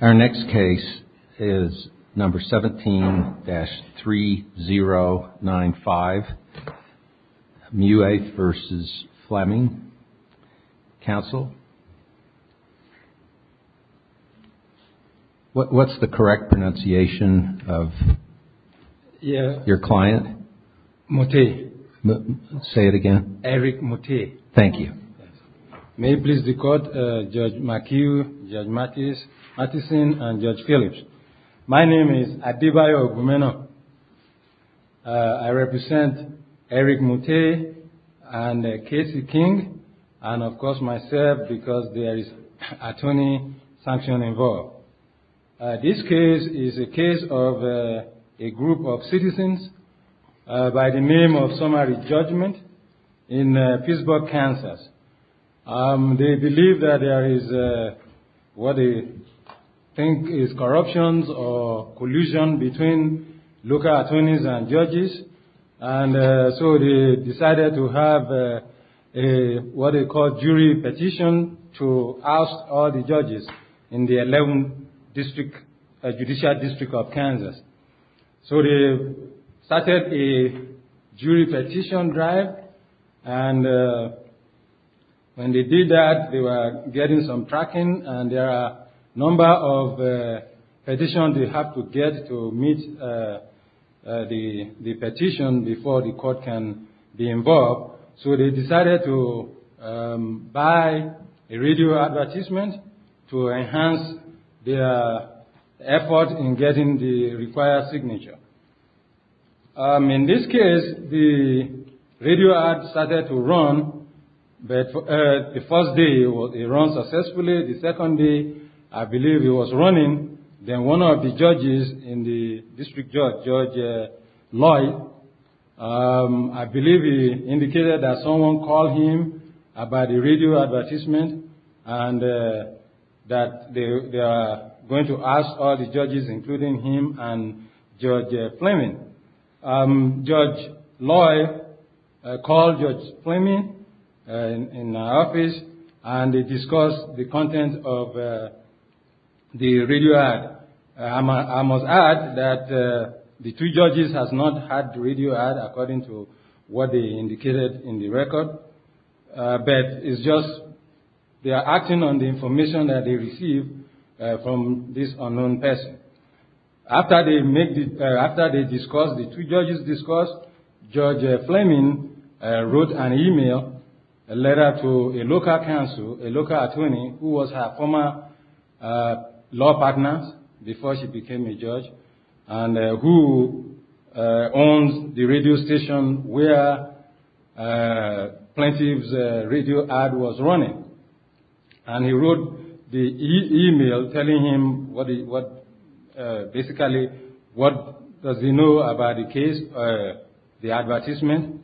Our next case is number 17-3095, Muateh v. Fleming. Council, what's the correct pronunciation of your client? Muateh. Say it again. Eric Muateh. Thank you. May it please the court, Judge McHugh, Judge Matheson, and Judge Phillips. My name is Adebayo Ogumeno. I represent Eric Muateh and Casey King, and of course myself, because there is attorney sanction involved. This case is a case of a group of citizens by the name of summary judgment in Pittsburgh, Kansas. They believe that there is what they think is corruptions or collusion between local attorneys and judges, and so they decided to have what they call jury petition to oust all the judges in the 11th Judicial District of Kansas. So they started a jury petition drive, and when they did that, they were getting some tracking, and there are a number of petitions they have to get to meet the petition before the court can be involved. So they decided to buy a radio advertisement to enhance their effort in getting the required signature. In this case, the radio ad started to run, but the first day it ran successfully. The second day, I believe, it was running. Then one of the judges in the district judge, Judge Lloyd, I believe he indicated that someone called him about the radio advertisement and that they are going to ask all the judges, including him and Judge Fleming. Judge Lloyd called Judge Fleming in the office, and they discussed the content of the radio ad. I must add that the two judges have not had the radio ad according to what they indicated in the record, but they are acting on the information that they received from this unknown person. After the two judges discussed, Judge Fleming wrote an email, a letter to a local counsel, a local attorney, who was her former law partner before she became a judge, and who owns the radio station where Plaintiff's radio ad was running. And he wrote the email telling him what, basically, what does he know about the case, the advertisement.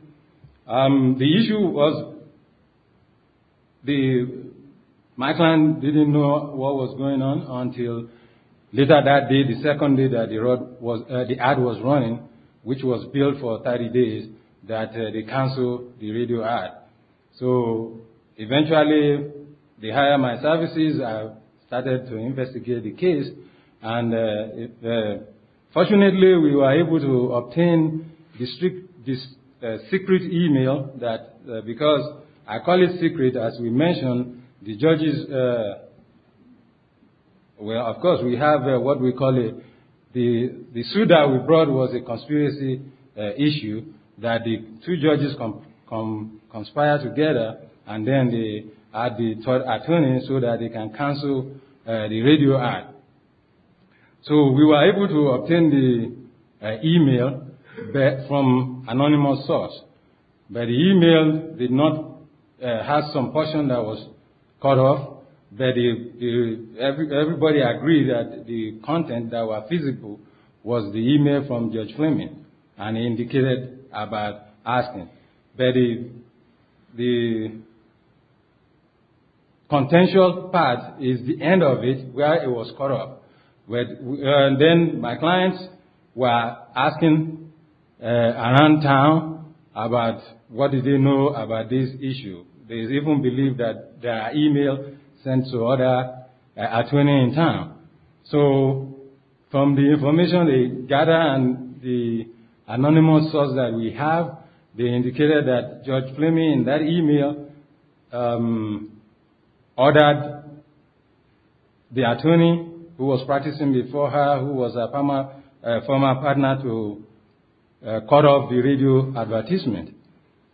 The issue was that my client didn't know what was going on until later that day, the second day that the ad was running, which was billed for 30 days, that they canceled the radio ad. So eventually, they hired my services. I started to investigate the case, and fortunately, we were able to obtain this secret email that, because I call it secret, as we mentioned, the judges, well, of course, we have what we call the suit that we brought was a conspiracy issue that the two judges conspired together, and then they hired the attorney so that they can cancel the radio ad. So we were able to obtain the email from an anonymous source, but the email did not have some portion that was cut off, but everybody agreed that the content that was physical was the email from Judge Fleming, and he indicated about asking. But the potential part is the end of it, where it was cut off. And then my clients were asking around town about what did they know about this issue. They even believed that the email sent to other attorneys in town. So from the information they gathered and the anonymous source that we have, they indicated that Judge Fleming, in that email, ordered the attorney who was practicing before her, who was a former partner, to cut off the radio advertisement.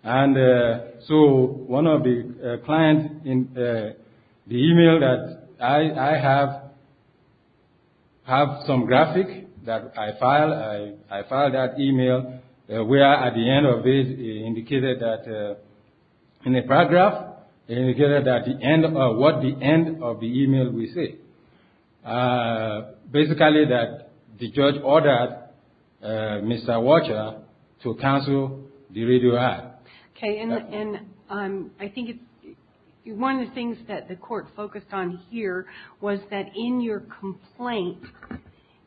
And so one of the clients in the email that I have, have some graphic that I filed, I filed that email, where at the end of it it indicated that, in a paragraph, it indicated that the end of, what the end of the email will say. Basically that the judge ordered Mr. Watcher to cancel the radio ad. Okay, and I think one of the things that the court focused on here was that in your complaint,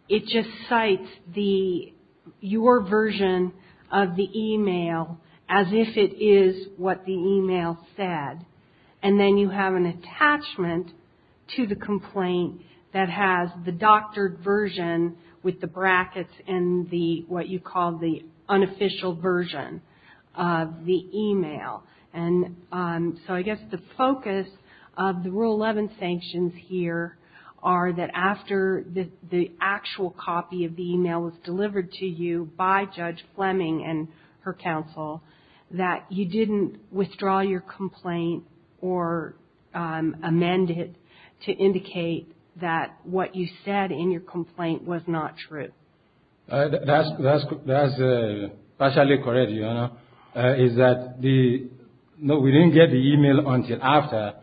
it just cites the, your version of the email as if it is what the email said. And then you have an attachment to the complaint that has the doctored version with the brackets and the, what you call the unofficial version of the email. And so I guess the focus of the Rule 11 sanctions here are that after the actual copy of the email was delivered to you by Judge Fleming and her counsel, that you didn't withdraw your complaint or amend it to indicate that what you said in your complaint was not true. That's, that's, that's partially correct, you know, is that the, no, we didn't get the email until after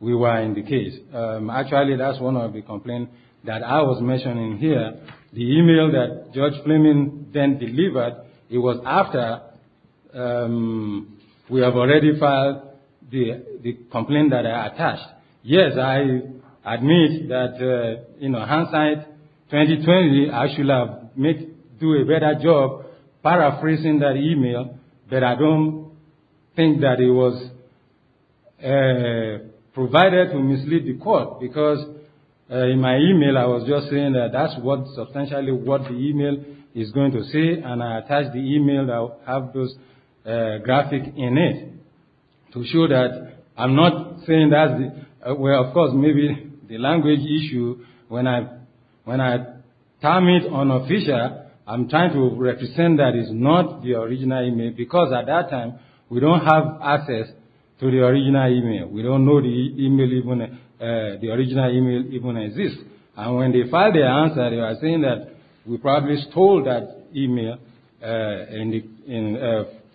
we were in the case. Actually, that's one of the complaints that I was mentioning here. The email that Judge Fleming then delivered, it was after we have already filed the complaint that I attached. Yes, I admit that in hindsight, 2020, I should have do a better job paraphrasing that email, but I don't think that it was provided to mislead the court because in my email, I was just saying that that's what substantially what the email is going to say, and I attached the email that will have those graphic in it to show that I'm not saying that's the, well, of course, maybe the language issue when I, when I term it unofficial, I'm trying to represent that it's not the original email because at that time, we don't have access to the original email. We don't know the email even, the original email even exists, and when they file the answer, they are saying that we probably stole that email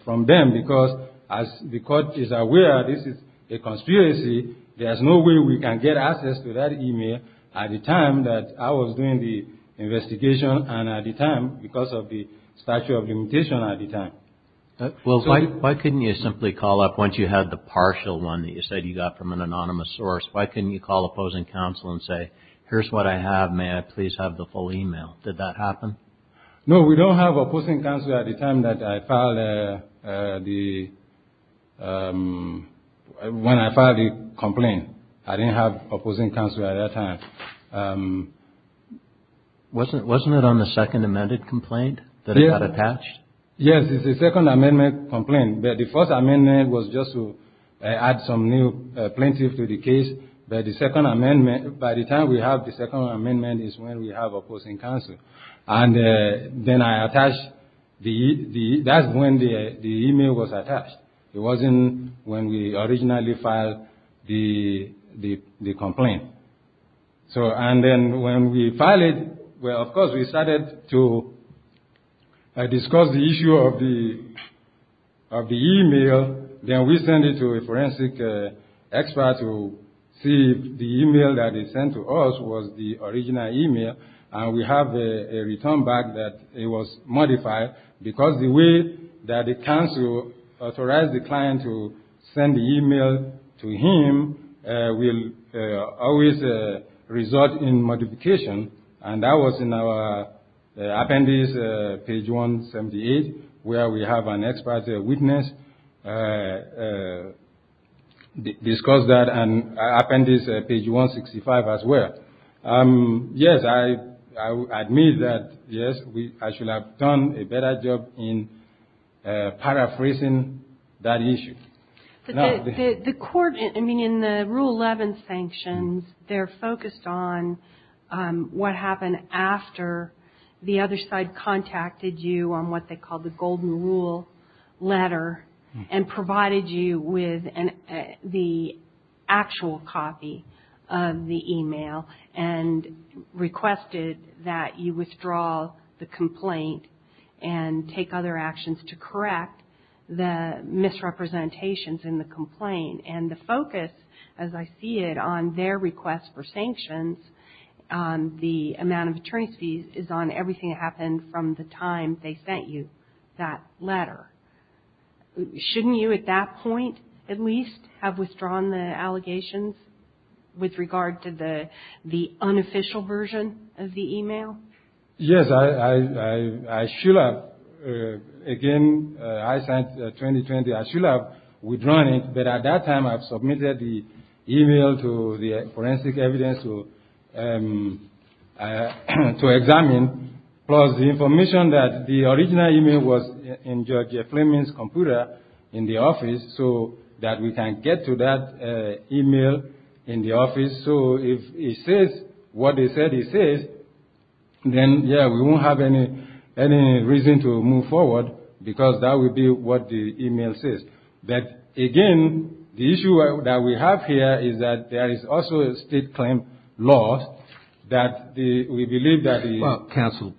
from them because as the court is aware, this is a conspiracy. There's no way we can get access to that email at the time that I was doing the investigation and at the time because of the statute of limitation at the time. Well, why couldn't you simply call up once you had the partial one that you said you got from an anonymous source? Why couldn't you call opposing counsel and say, here's what I have, may I please have the full email? Did that happen? No, we don't have opposing counsel at the time that I filed the, when I filed the complaint. I didn't have opposing counsel at that time. Wasn't it on the second amended complaint that it got attached? Yes, it's the second amendment complaint, but the first amendment was just to add some plaintiff to the case, but the second amendment, by the time we have the second amendment is when we have opposing counsel. And then I attached the, that's when the email was attached. It wasn't when we originally filed the complaint. So, and then when we filed it, of course, we started to discuss the issue of the email. Then we sent it to a forensic expert to see if the email that they sent to us was the original email. And we have a return back that it was modified because the way that the counsel authorized the client to send the email to him will always result in modification. And that was in our appendix, page 178, where we have an expert witness discuss that, and appendix page 165 as well. Yes, I admit that, yes, I should have done a better job in paraphrasing that issue. The court, I mean, in the Rule 11 sanctions, they're focused on what happened after the other side contacted you on what they call the golden rule letter and provided you with the actual copy of the email and requested that you withdraw the complaint and take other actions to correct the misrepresentations in the complaint. And the focus, as I see it, on their request for sanctions, on the amount of attorney's fees, is on everything that happened from the time they sent you that letter. Shouldn't you, at that point, at least, have withdrawn the allegations with regard to the unofficial version of the email? Yes, I should have. Again, I signed 2020, I should have withdrawn it. But at that time, I've submitted the email to the forensic evidence to examine, plus the information that the original email was in George F. Fleming's email in the office. So if he says what he said he says, then, yes, we won't have any reason to move forward because that would be what the email says. But again, the issue that we have here is that there is also a state claim law that we believe that the... Well, counsel,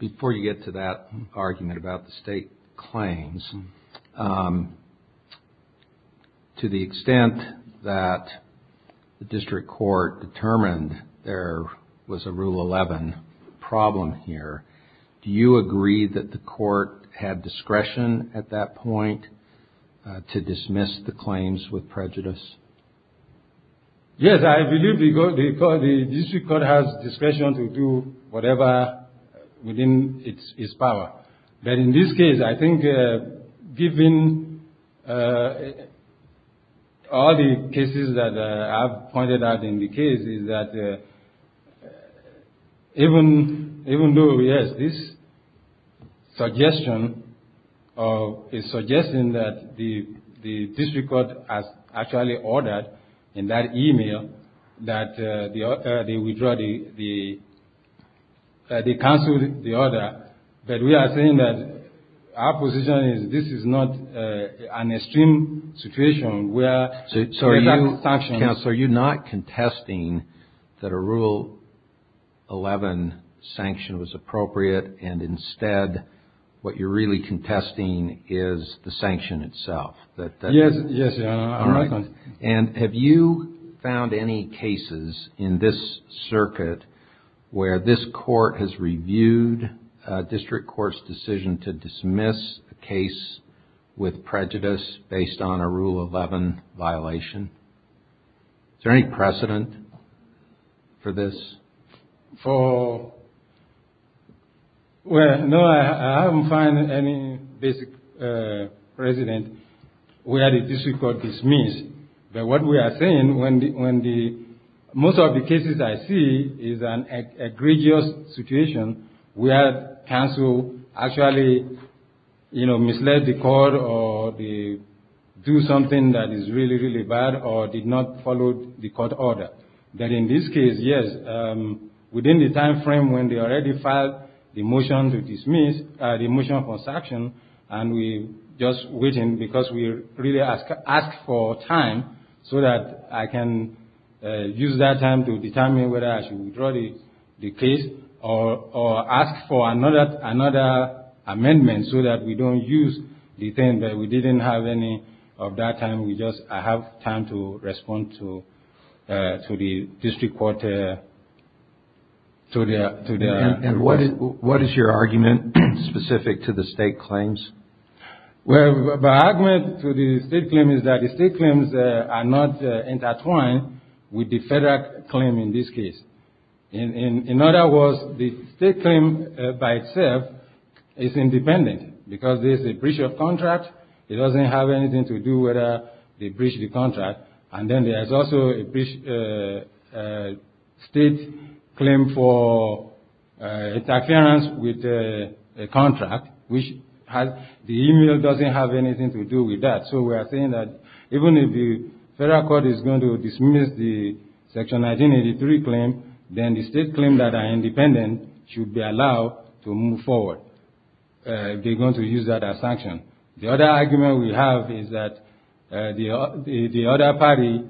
before you get to that argument about the state claims, to the extent that the district court determined there was a Rule 11 problem here, do you agree that the court had discretion at that point to dismiss the claims with prejudice? Yes, I believe the district court has discretion to do whatever within its power. But in this case, I think, given all the cases that I've pointed out in the case, is that even though, yes, this suggestion is suggesting that the district court has actually ordered in that email that they withdraw the... That they cancel the order, but we are saying that our position is this is not an extreme situation where... So are you not contesting that a Rule 11 sanction was appropriate and instead what you're really contesting is the sanction itself? Yes, yes. And have you found any cases in this circuit where this court has reviewed a district court's decision to dismiss a case with prejudice based on a Rule 11 violation? Is there any precedent for this? For... Well, no, I haven't found any basic precedent. We had a district court dismiss, but what we are saying when the... Most of the cases I see is an egregious situation where counsel actually, you know, misled the court or they do something that is really, really bad or did not follow the court order. But in this case, yes, within the time frame when they already filed the motion to dismiss, the motion for sanction, and we just waiting because we really ask for time so that I can use that time to determine whether I should withdraw the case or ask for another amendment so that we don't use the thing that we didn't have any of that time. We just have time to respond to the district court... What is your argument specific to the state claims? Well, my argument to the state claim is that the state claims are not intertwined with the federal claim in this case. In other words, the state claim by itself is independent because there's a breach of contract. It doesn't have anything to do with the breach of the contract. And then there's also a state claim for interference with a contract, which has... The email doesn't have anything to do with that. So we are saying that even if the federal court is going to dismiss the Section 1983 claim, then the state claim that are independent should be allowed to move forward. They're going to use that as sanction. The other argument we have is that the other party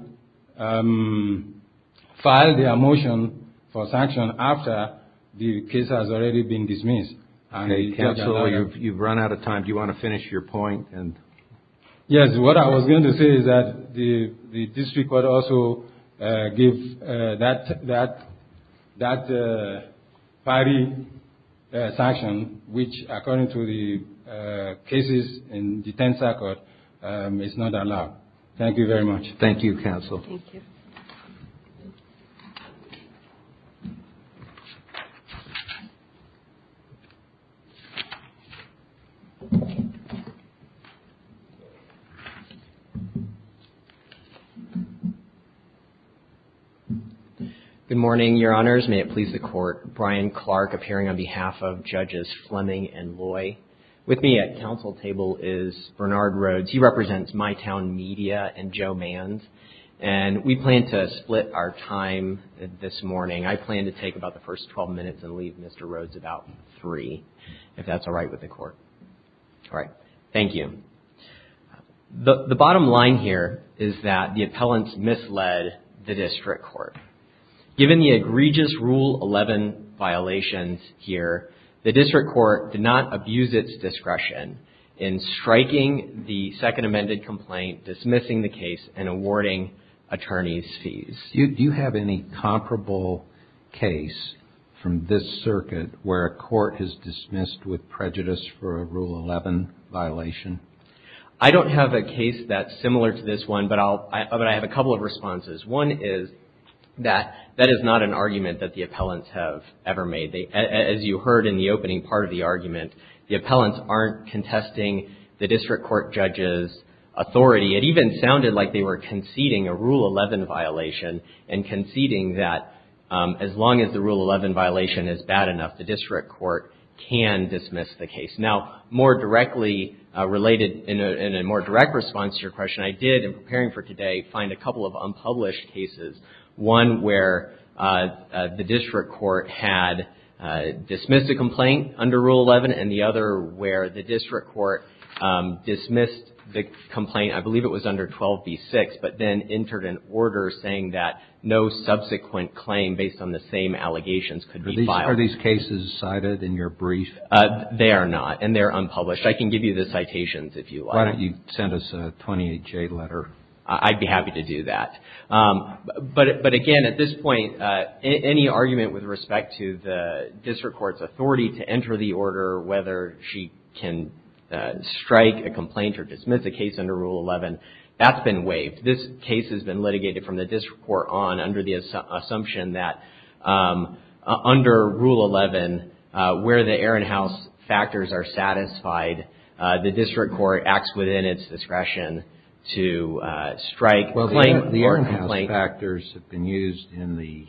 filed their motion for sanction after the case has already been dismissed. You've run out of time. Do you want to finish your point? Yes. What I was going to say is that the district court also gave that party a sanction, which, according to the cases in the 10th Circuit, is not allowed. Thank you very much. Thank you, counsel. Good morning, your honors. May it please the court. Brian Clark appearing on behalf of Fleming and Loy. With me at counsel table is Bernard Rhodes. He represents My Town Media and Joe Manz. And we plan to split our time this morning. I plan to take about the first 12 minutes and leave Mr. Rhodes about three, if that's all right with the court. All right. Thank you. The bottom line here is that the appellants misled the district court. Given the egregious Rule 11 violations here, the district court did not abuse its discretion in striking the second amended complaint, dismissing the case, and awarding attorneys fees. Do you have any comparable case from this circuit where a court has dismissed with prejudice for a Rule 11 violation? I don't have a case that's similar to this one, but I have a couple of responses. One is that that is not an argument that the appellants have ever made. As you heard in the opening part of the argument, the appellants aren't contesting the district court judge's authority. It even sounded like they were conceding a Rule 11 violation and conceding that as long as the Rule 11 violation is bad enough, the district court can dismiss the case. Now, more directly related in a more direct response to your question, I did, in preparing for today, find a couple of unpublished cases. One where the district court had dismissed a complaint under Rule 11, and the other where the district court dismissed the complaint, I believe it was under 12b-6, but then entered an order saying that no subsequent claim based on the same allegations could be filed. Are these cases cited in your brief? They are not, and they're unpublished. I can give you the citations if you like. Why don't you send us a 28-J letter? I'd be happy to do that. But again, at this point, any argument with respect to the district court's authority to enter the order, whether she can strike a complaint or dismiss a case under Rule 11, that's been waived. This case has been litigated from the district court on under the assumption that under Rule 11, where the Ehrenhaus factors are satisfied, the district court acts within its discretion to strike a complaint. The Ehrenhaus factors have been used in the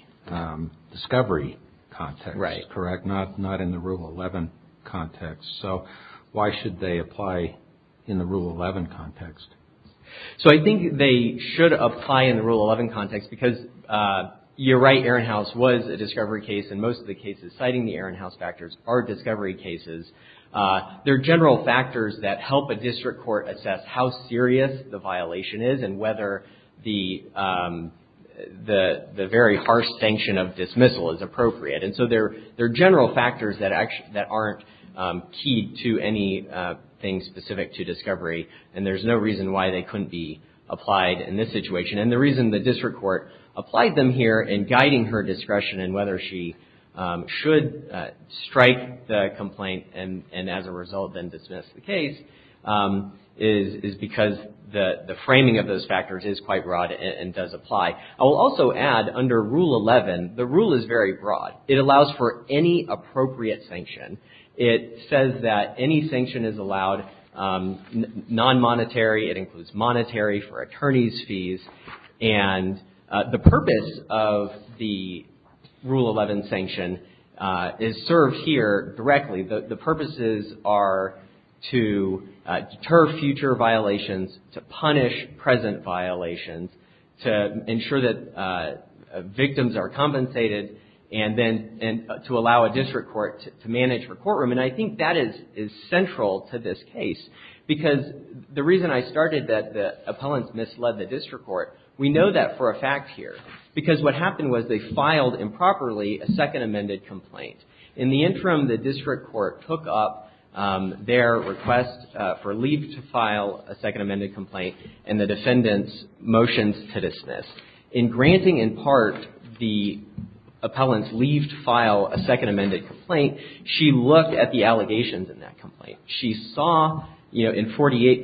discovery context, correct? Not in the Rule 11 context. So, why should they apply in the Rule 11 context? So, I think they should apply in the Rule 11 context because you're right, Ehrenhaus was a discovery case, and most of the cases citing the Ehrenhaus factors are discovery cases. There are general factors that help a district court assess how serious the violation is and whether the very harsh sanction of dismissal is appropriate. And so, there are general factors that aren't key to anything specific to discovery, and there's no reason why they couldn't be applied in this situation. And the reason the district court applied them here in guiding her discretion in whether she should strike the complaint and as a result then dismiss the case is because the framing of those factors is quite broad and does apply. I will also add under Rule 11, the rule is very broad. It allows for any appropriate sanction. It says that any sanction is allowed non-monetary. It includes monetary for attorney's fees. And the purpose of the Rule 11 sanction is served here directly. The purposes are to ensure that victims are compensated and then to allow a district court to manage her courtroom. And I think that is central to this case because the reason I started that the appellants misled the district court, we know that for a fact here, because what happened was they filed improperly a Second Amended Complaint. In the interim, the district court took up their request for leave to file a Second Amended Complaint, and the defendants' motions to dismiss. In granting in part the appellant's leave to file a Second Amended Complaint, she looked at the allegations in that complaint. She saw, you know, in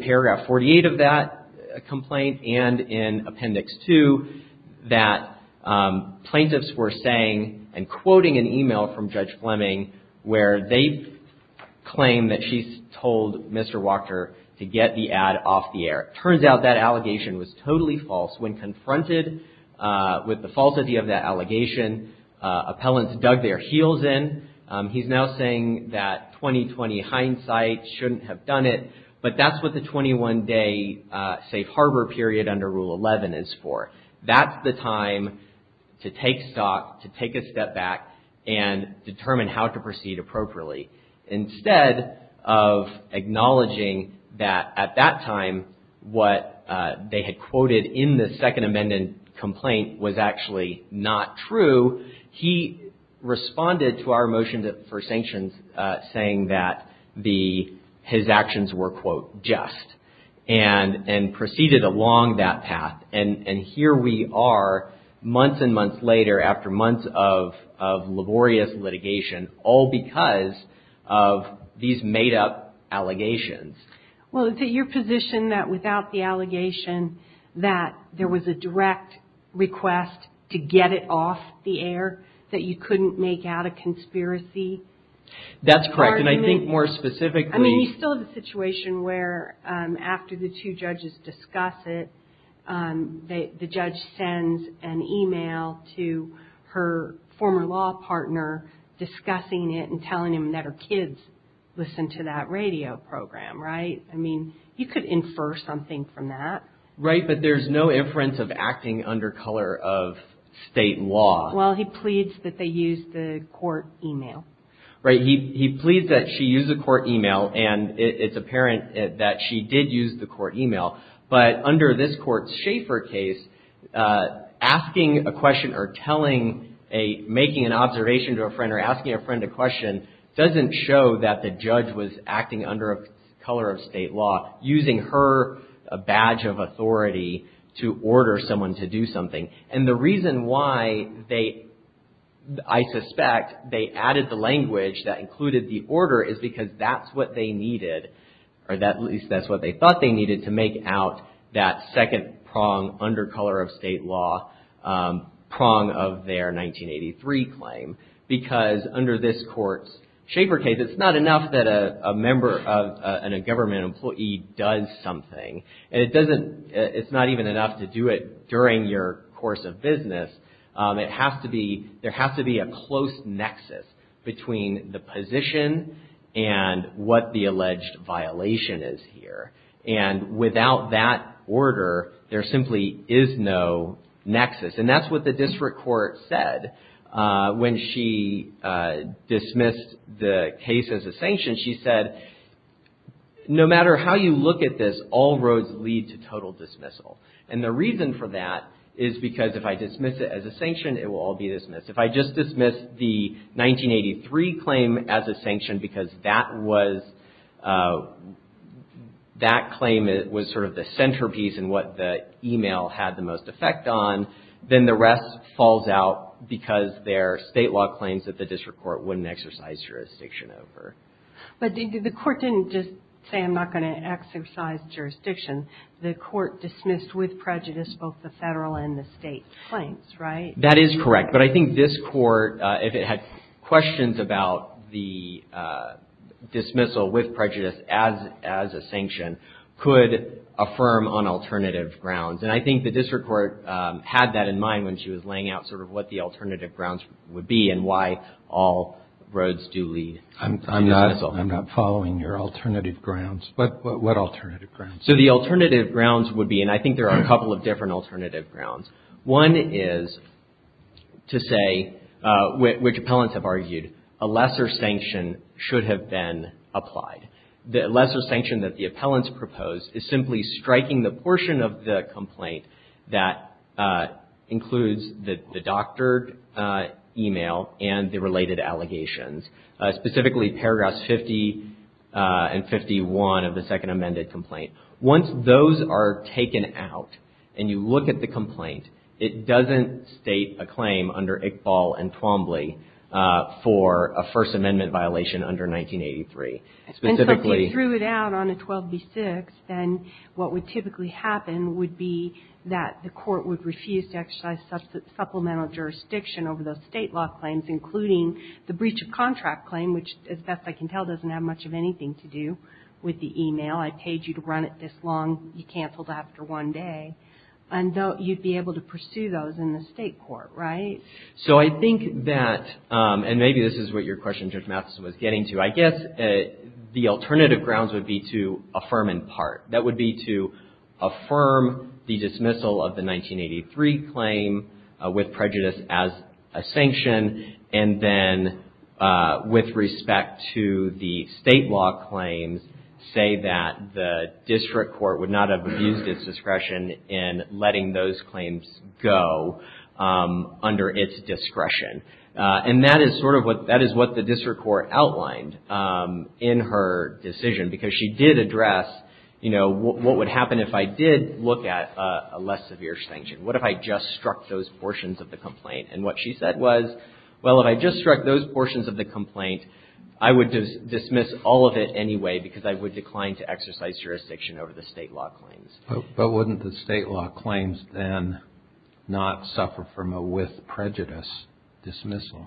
paragraph 48 of that complaint and in Appendix 2 that plaintiffs were saying and quoting an email from Judge Fleming where they claim that she's told Mr. Walker to get the ad off the air. Turns out that allegation was totally false. When confronted with the false idea of that allegation, appellants dug their heels in. He's now saying that 20-20 hindsight shouldn't have done it, but that's what the 21-day safe harbor period under Rule 11 is for. That's the time to take stock, to take a step back and determine how to proceed appropriately Instead of acknowledging that at that time what they had quoted in the Second Amended Complaint was actually not true, he responded to our motion for sanctions saying that his actions were, quote, just, and proceeded along that path. And here we are, months and months later, after months of laborious litigation, all because of these made-up allegations. Well, is it your position that without the allegation that there was a direct request to get it off the air, that you couldn't make out a conspiracy? That's correct, and I think more specifically... I mean, we still have a situation where after the two judges discuss it, the judge sends an email to her former law partner discussing it and telling him that her kids listened to that radio program, right? I mean, you could infer something from that. Right, but there's no inference of acting under color of state law. Well, he pleads that they used the court email. Right, he pleads that she used the court email, and it's apparent that she did use the court email in her case. Asking a question or telling a, making an observation to a friend or asking a friend a question doesn't show that the judge was acting under color of state law, using her badge of authority to order someone to do something. And the reason why they, I suspect, they added the language that included the order is because that's what they needed, or at least that's what they thought they needed to make out that second prong under color of state law prong of their 1983 claim. Because under this court's Schaefer case, it's not enough that a member of, a government employee does something, and it doesn't, it's not even enough to do it during your course of business. It has to be, there has to be a close nexus between the position and what the alleged violation is here. And without that order, there simply is no nexus. And that's what the district court said when she dismissed the case as a sanction. She said, no matter how you look at this, all roads lead to total dismissal. And the reason for that is because if I dismiss it as a sanction, it will all be dismissed. If I just dismiss the 1983 claim as a sanction because that was that claim, it was sort of the centerpiece and what the email had the most effect on, then the rest falls out because they're state law claims that the district court wouldn't exercise jurisdiction over. But the court didn't just say, I'm not going to exercise jurisdiction. The court dismissed with prejudice both the federal and the state claims, right? That is correct. But I think this court, if it had questions about the dismissal with prejudice as a sanction, could affirm on alternative grounds. And I think the district court had that in mind when she was laying out sort of what the alternative grounds would be and why all roads do lead. I'm not following your alternative grounds, but what alternative grounds? So the alternative grounds would be, and I think there are a couple of different alternative grounds. One is to say, which appellants have argued, a lesser sanction should have been applied. The lesser sanction that the appellants proposed is simply striking the portion of the complaint that includes the doctored email and the related allegations, specifically paragraphs 50 and 51 of the second amended complaint. Once those are taken out and you look at the complaint, it doesn't state a claim under Iqbal and Twombly for a First Amendment. And so if you threw it out on a 12B6, then what would typically happen would be that the court would refuse to exercise supplemental jurisdiction over those state law claims, including the breach of contract claim, which as best I can tell doesn't have much of anything to do with the email. I paid you to run it this long. You canceled after one day. And you'd be able to pursue those in the state court, right? So I think that, and maybe this is what your question, Judge Matheson, was getting to. I guess the alternative grounds would be to affirm in part. That would be to affirm the dismissal of the 1983 claim with prejudice as a sanction, and then with respect to the state law claims, say that the district court would not have abused its discretion in letting those claims go under its discretion. And that is sort of what, that is what the district court outlined in her decision because she did address, you know, what would happen if I did look at a less severe sanction? What if I just struck those portions of the complaint? And what she said was, well, if I just struck those portions of the complaint, I would dismiss all of it anyway because I would decline to exercise jurisdiction over the state law claims. But wouldn't the state law claims then not suffer from a with prejudice dismissal?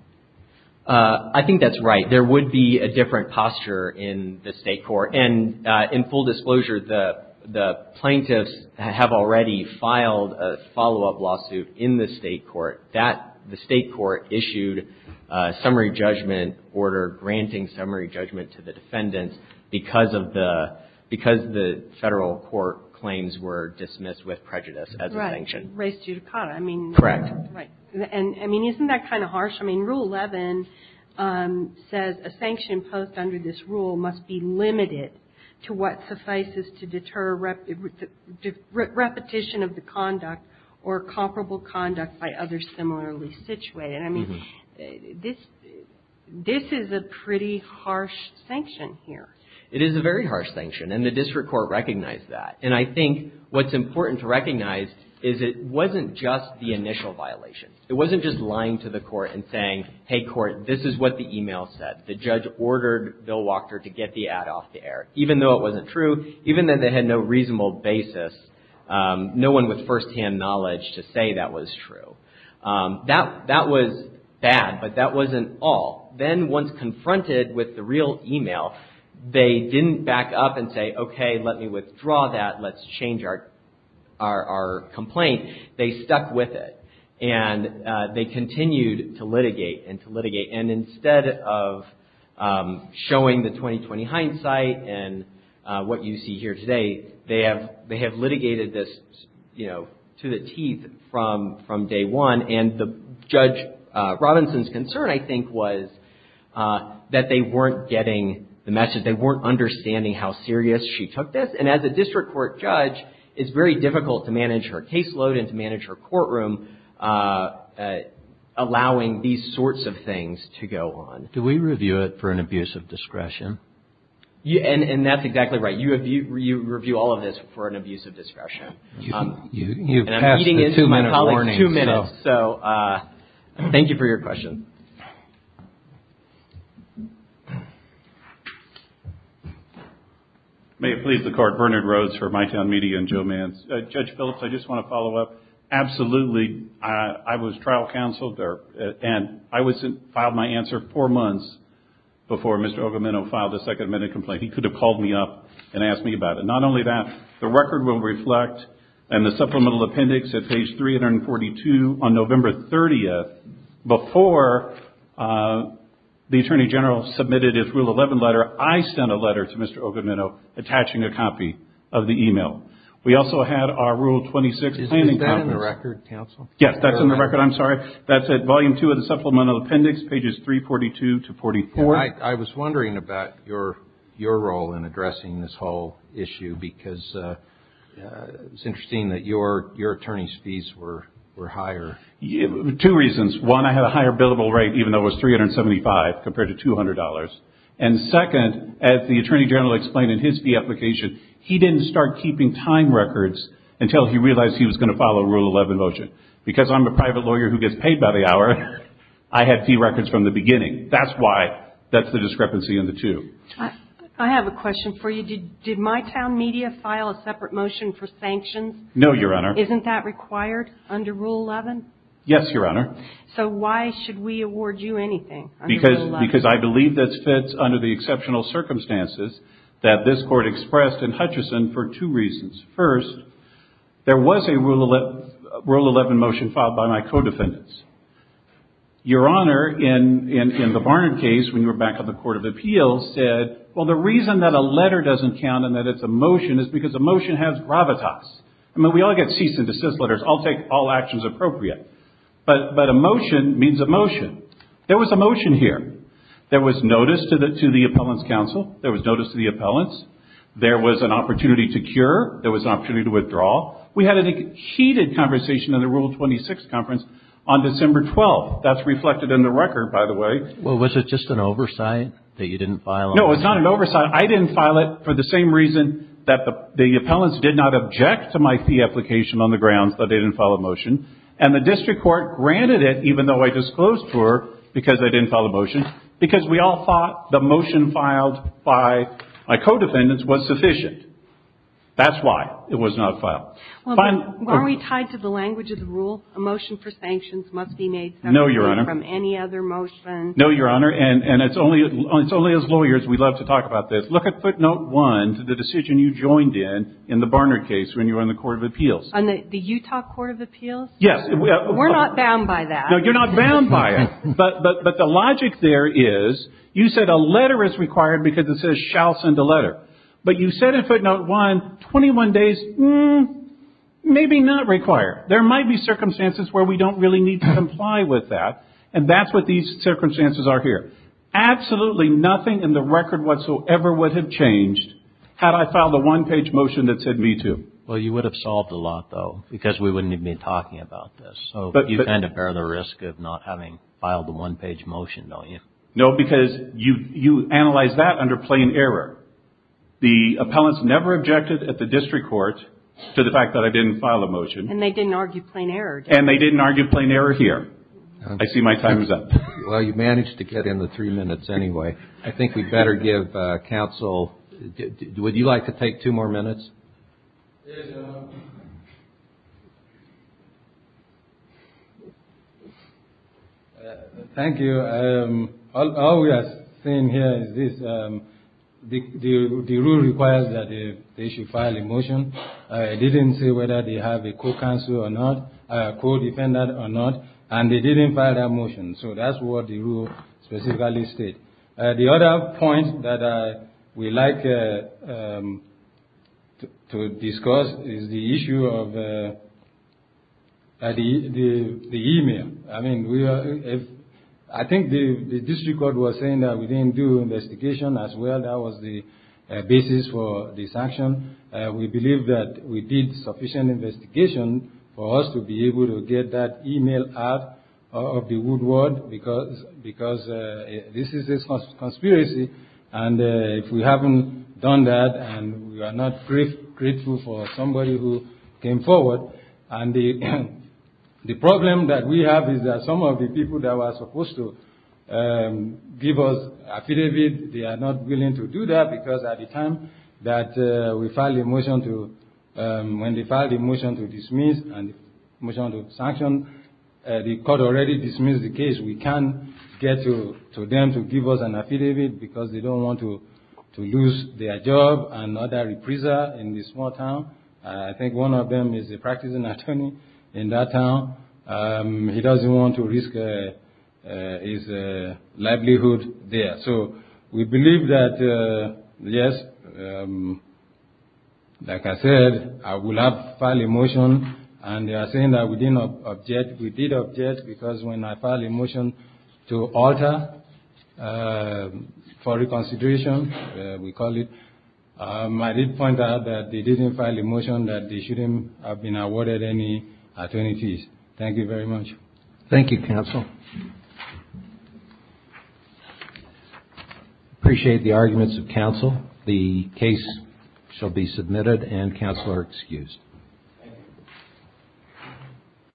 I think that's right. There would be a different posture in the state court. And in full disclosure, the plaintiffs have already filed a follow-up lawsuit in the state court. That, the state court issued a summary judgment order granting summary judgment to the defendants because of the, because the federal court claims were dismissed with prejudice as a sanction. Right. Res judicata. I mean. Correct. Right. And, I mean, isn't that kind of harsh? I mean, Rule 11 says a sanction imposed under this rule must be limited to what suffices to deter repetition of the conduct or comparable conduct by others similarly situated. I mean, this, this is a pretty harsh sanction here. It is a very harsh sanction. And the district court recognized that. And I think what's important to recognize is it wasn't just the initial violation. It wasn't just lying to the court and saying, hey, court, this is what the email said. The judge ordered Bill Wachter to get the ad off the air. Even though it wasn't true, even though they had no reasonable basis, no one with firsthand knowledge to say that was true. That, that was bad, but that wasn't all. Then once confronted with the real email, they didn't back up and say, okay, let me withdraw that. Let's change our, our complaint. They stuck with it. And they continued to litigate and to litigate. And instead of showing the 20-20 hindsight and what you see here today, they have, they have litigated this, you know, to the teeth from, from day one. And the Judge Robinson's concern, I think, was that they weren't getting the message. They weren't understanding how serious she took this. And as a district court judge, it's very difficult to manage her caseload and to manage her courtroom allowing these sorts of things to go on. And that's exactly right. You have, you review all of this for an abusive discretion. You've passed the two-minute warning. So thank you for your question. May it please the Court, Bernard Rhodes for My Town Media and Joe Manz. Judge Phillips, I just want to follow up. Absolutely. I was trial counseled there and I wasn't, filed my answer four months before Mr. Ogameno filed a second minute complaint. He could have called me up and asked me about it. Not only that, the record will reflect and the supplemental appendix at page 342 on November 30th, before the Attorney General submitted his Rule 11 letter, I sent a letter to Mr. Ogameno attaching a copy of the email. We also had our Rule 26. Is that in the record, counsel? Yes, that's in the record. I'm sorry. That's at volume two of the supplemental appendix, pages 342 to 44. I was wondering about your role in addressing this whole issue because it's interesting that your attorney's fees were higher. Two reasons. One, I had a higher billable rate, even though it was $375 compared to $200. And second, as the Attorney General explained in his fee application, he didn't start keeping time records until he realized he was going to file a Rule 11 motion. Because I'm a private lawyer who gets paid by the hour, I have fee records from the beginning. That's why that's the discrepancy in the two. I have a question for you. Did My Town Media file a separate motion for sanctions? No, Your Honor. Isn't that required under Rule 11? Yes, Your Honor. So why should we award you anything under Rule 11? Because I believe this fits under the exceptional circumstances that this Court expressed in Hutchison for two reasons. First, there was a Rule 11 motion filed by my co-defendants. Your Honor, in the Barnard case, when you were back on the Court of Appeals, said, well, the reason that a letter doesn't count and that it's a motion is because a motion has gravitas. I mean, we all get cease and desist letters. I'll take all actions appropriate. But a motion means a motion. There was a motion here. There was notice to the appellants' counsel. There was notice to the appellants. There was an opportunity to cure. There was an opportunity to withdraw. We had a heated conversation in the Rule 26 conference on December 12th. That's reflected in the record, by the way. Well, was it just an oversight that you didn't file? No, it's not an oversight. I didn't file it for the same reason that the appellants did not object to my fee application on the grounds that they didn't file a motion. And the district court granted it, even though I disclosed to her because I didn't file a motion, because we all thought the motion filed by my co-defendants was sufficient. That's why it was not filed. Well, aren't we tied to the language of the rule? A motion for sanctions must be made separately from any other motion. No, Your Honor. And it's only as lawyers we love to talk about this. Look at footnote one to the decision you joined in, in the Barnard case, when you were on the Court of Appeals. On the Utah Court of Appeals? Yes. We're not bound by that. No, you're not bound by it. But the logic there is, you said a letter is required because it says, shall send a letter. But you said in footnote one, 21 days, maybe not required. There might be circumstances where we don't really need to comply with that. And that's what these circumstances are here. Absolutely nothing in the record whatsoever would have changed had I filed a one-page motion that said, me too. Well, you would have solved a lot, though, because we wouldn't even be talking about this. So you kind of bear the risk of not having filed a one-page motion, don't you? No, because you analyze that under plain error. The appellants never objected at the district court to the fact that I didn't file a motion. And they didn't argue plain error. And they didn't argue plain error here. I see my time is up. Well, you managed to get in the three minutes anyway. I think we'd better give counsel, would you like to take two more minutes? Yes, Your Honor. Thank you. All we are saying here is this. The rule requires that they should file a motion. I didn't say whether they have a co-counselor or not, a co-defendant or not. And they didn't file that motion. So that's what the rule specifically states. The other point that we'd like to discuss is the issue of the email. I think the district court was saying that we didn't do investigation as well. That was the basis for this action. We believe that we did sufficient investigation for us to be able to get that email out of the conspiracy. And if we haven't done that and we are not grateful for somebody who came forward. And the problem that we have is that some of the people that were supposed to give us affidavit, they are not willing to do that. Because at the time that we filed the motion to dismiss and motion to sanction, the court already dismissed the case. We can't get to them to give us an affidavit because they don't want to lose their job and not a reprisal in this small town. I think one of them is a practicing attorney in that town. He doesn't want to risk his livelihood there. So we believe that, yes, like I said, I will file a motion. And they are saying that we didn't object. We did object because when I filed a motion to alter for reconsideration, we call it. I did point out that they didn't file a motion that they shouldn't have been awarded any attorneys. Thank you very much. Thank you, counsel. Appreciate the arguments of counsel. The case shall be submitted and counsel are excused.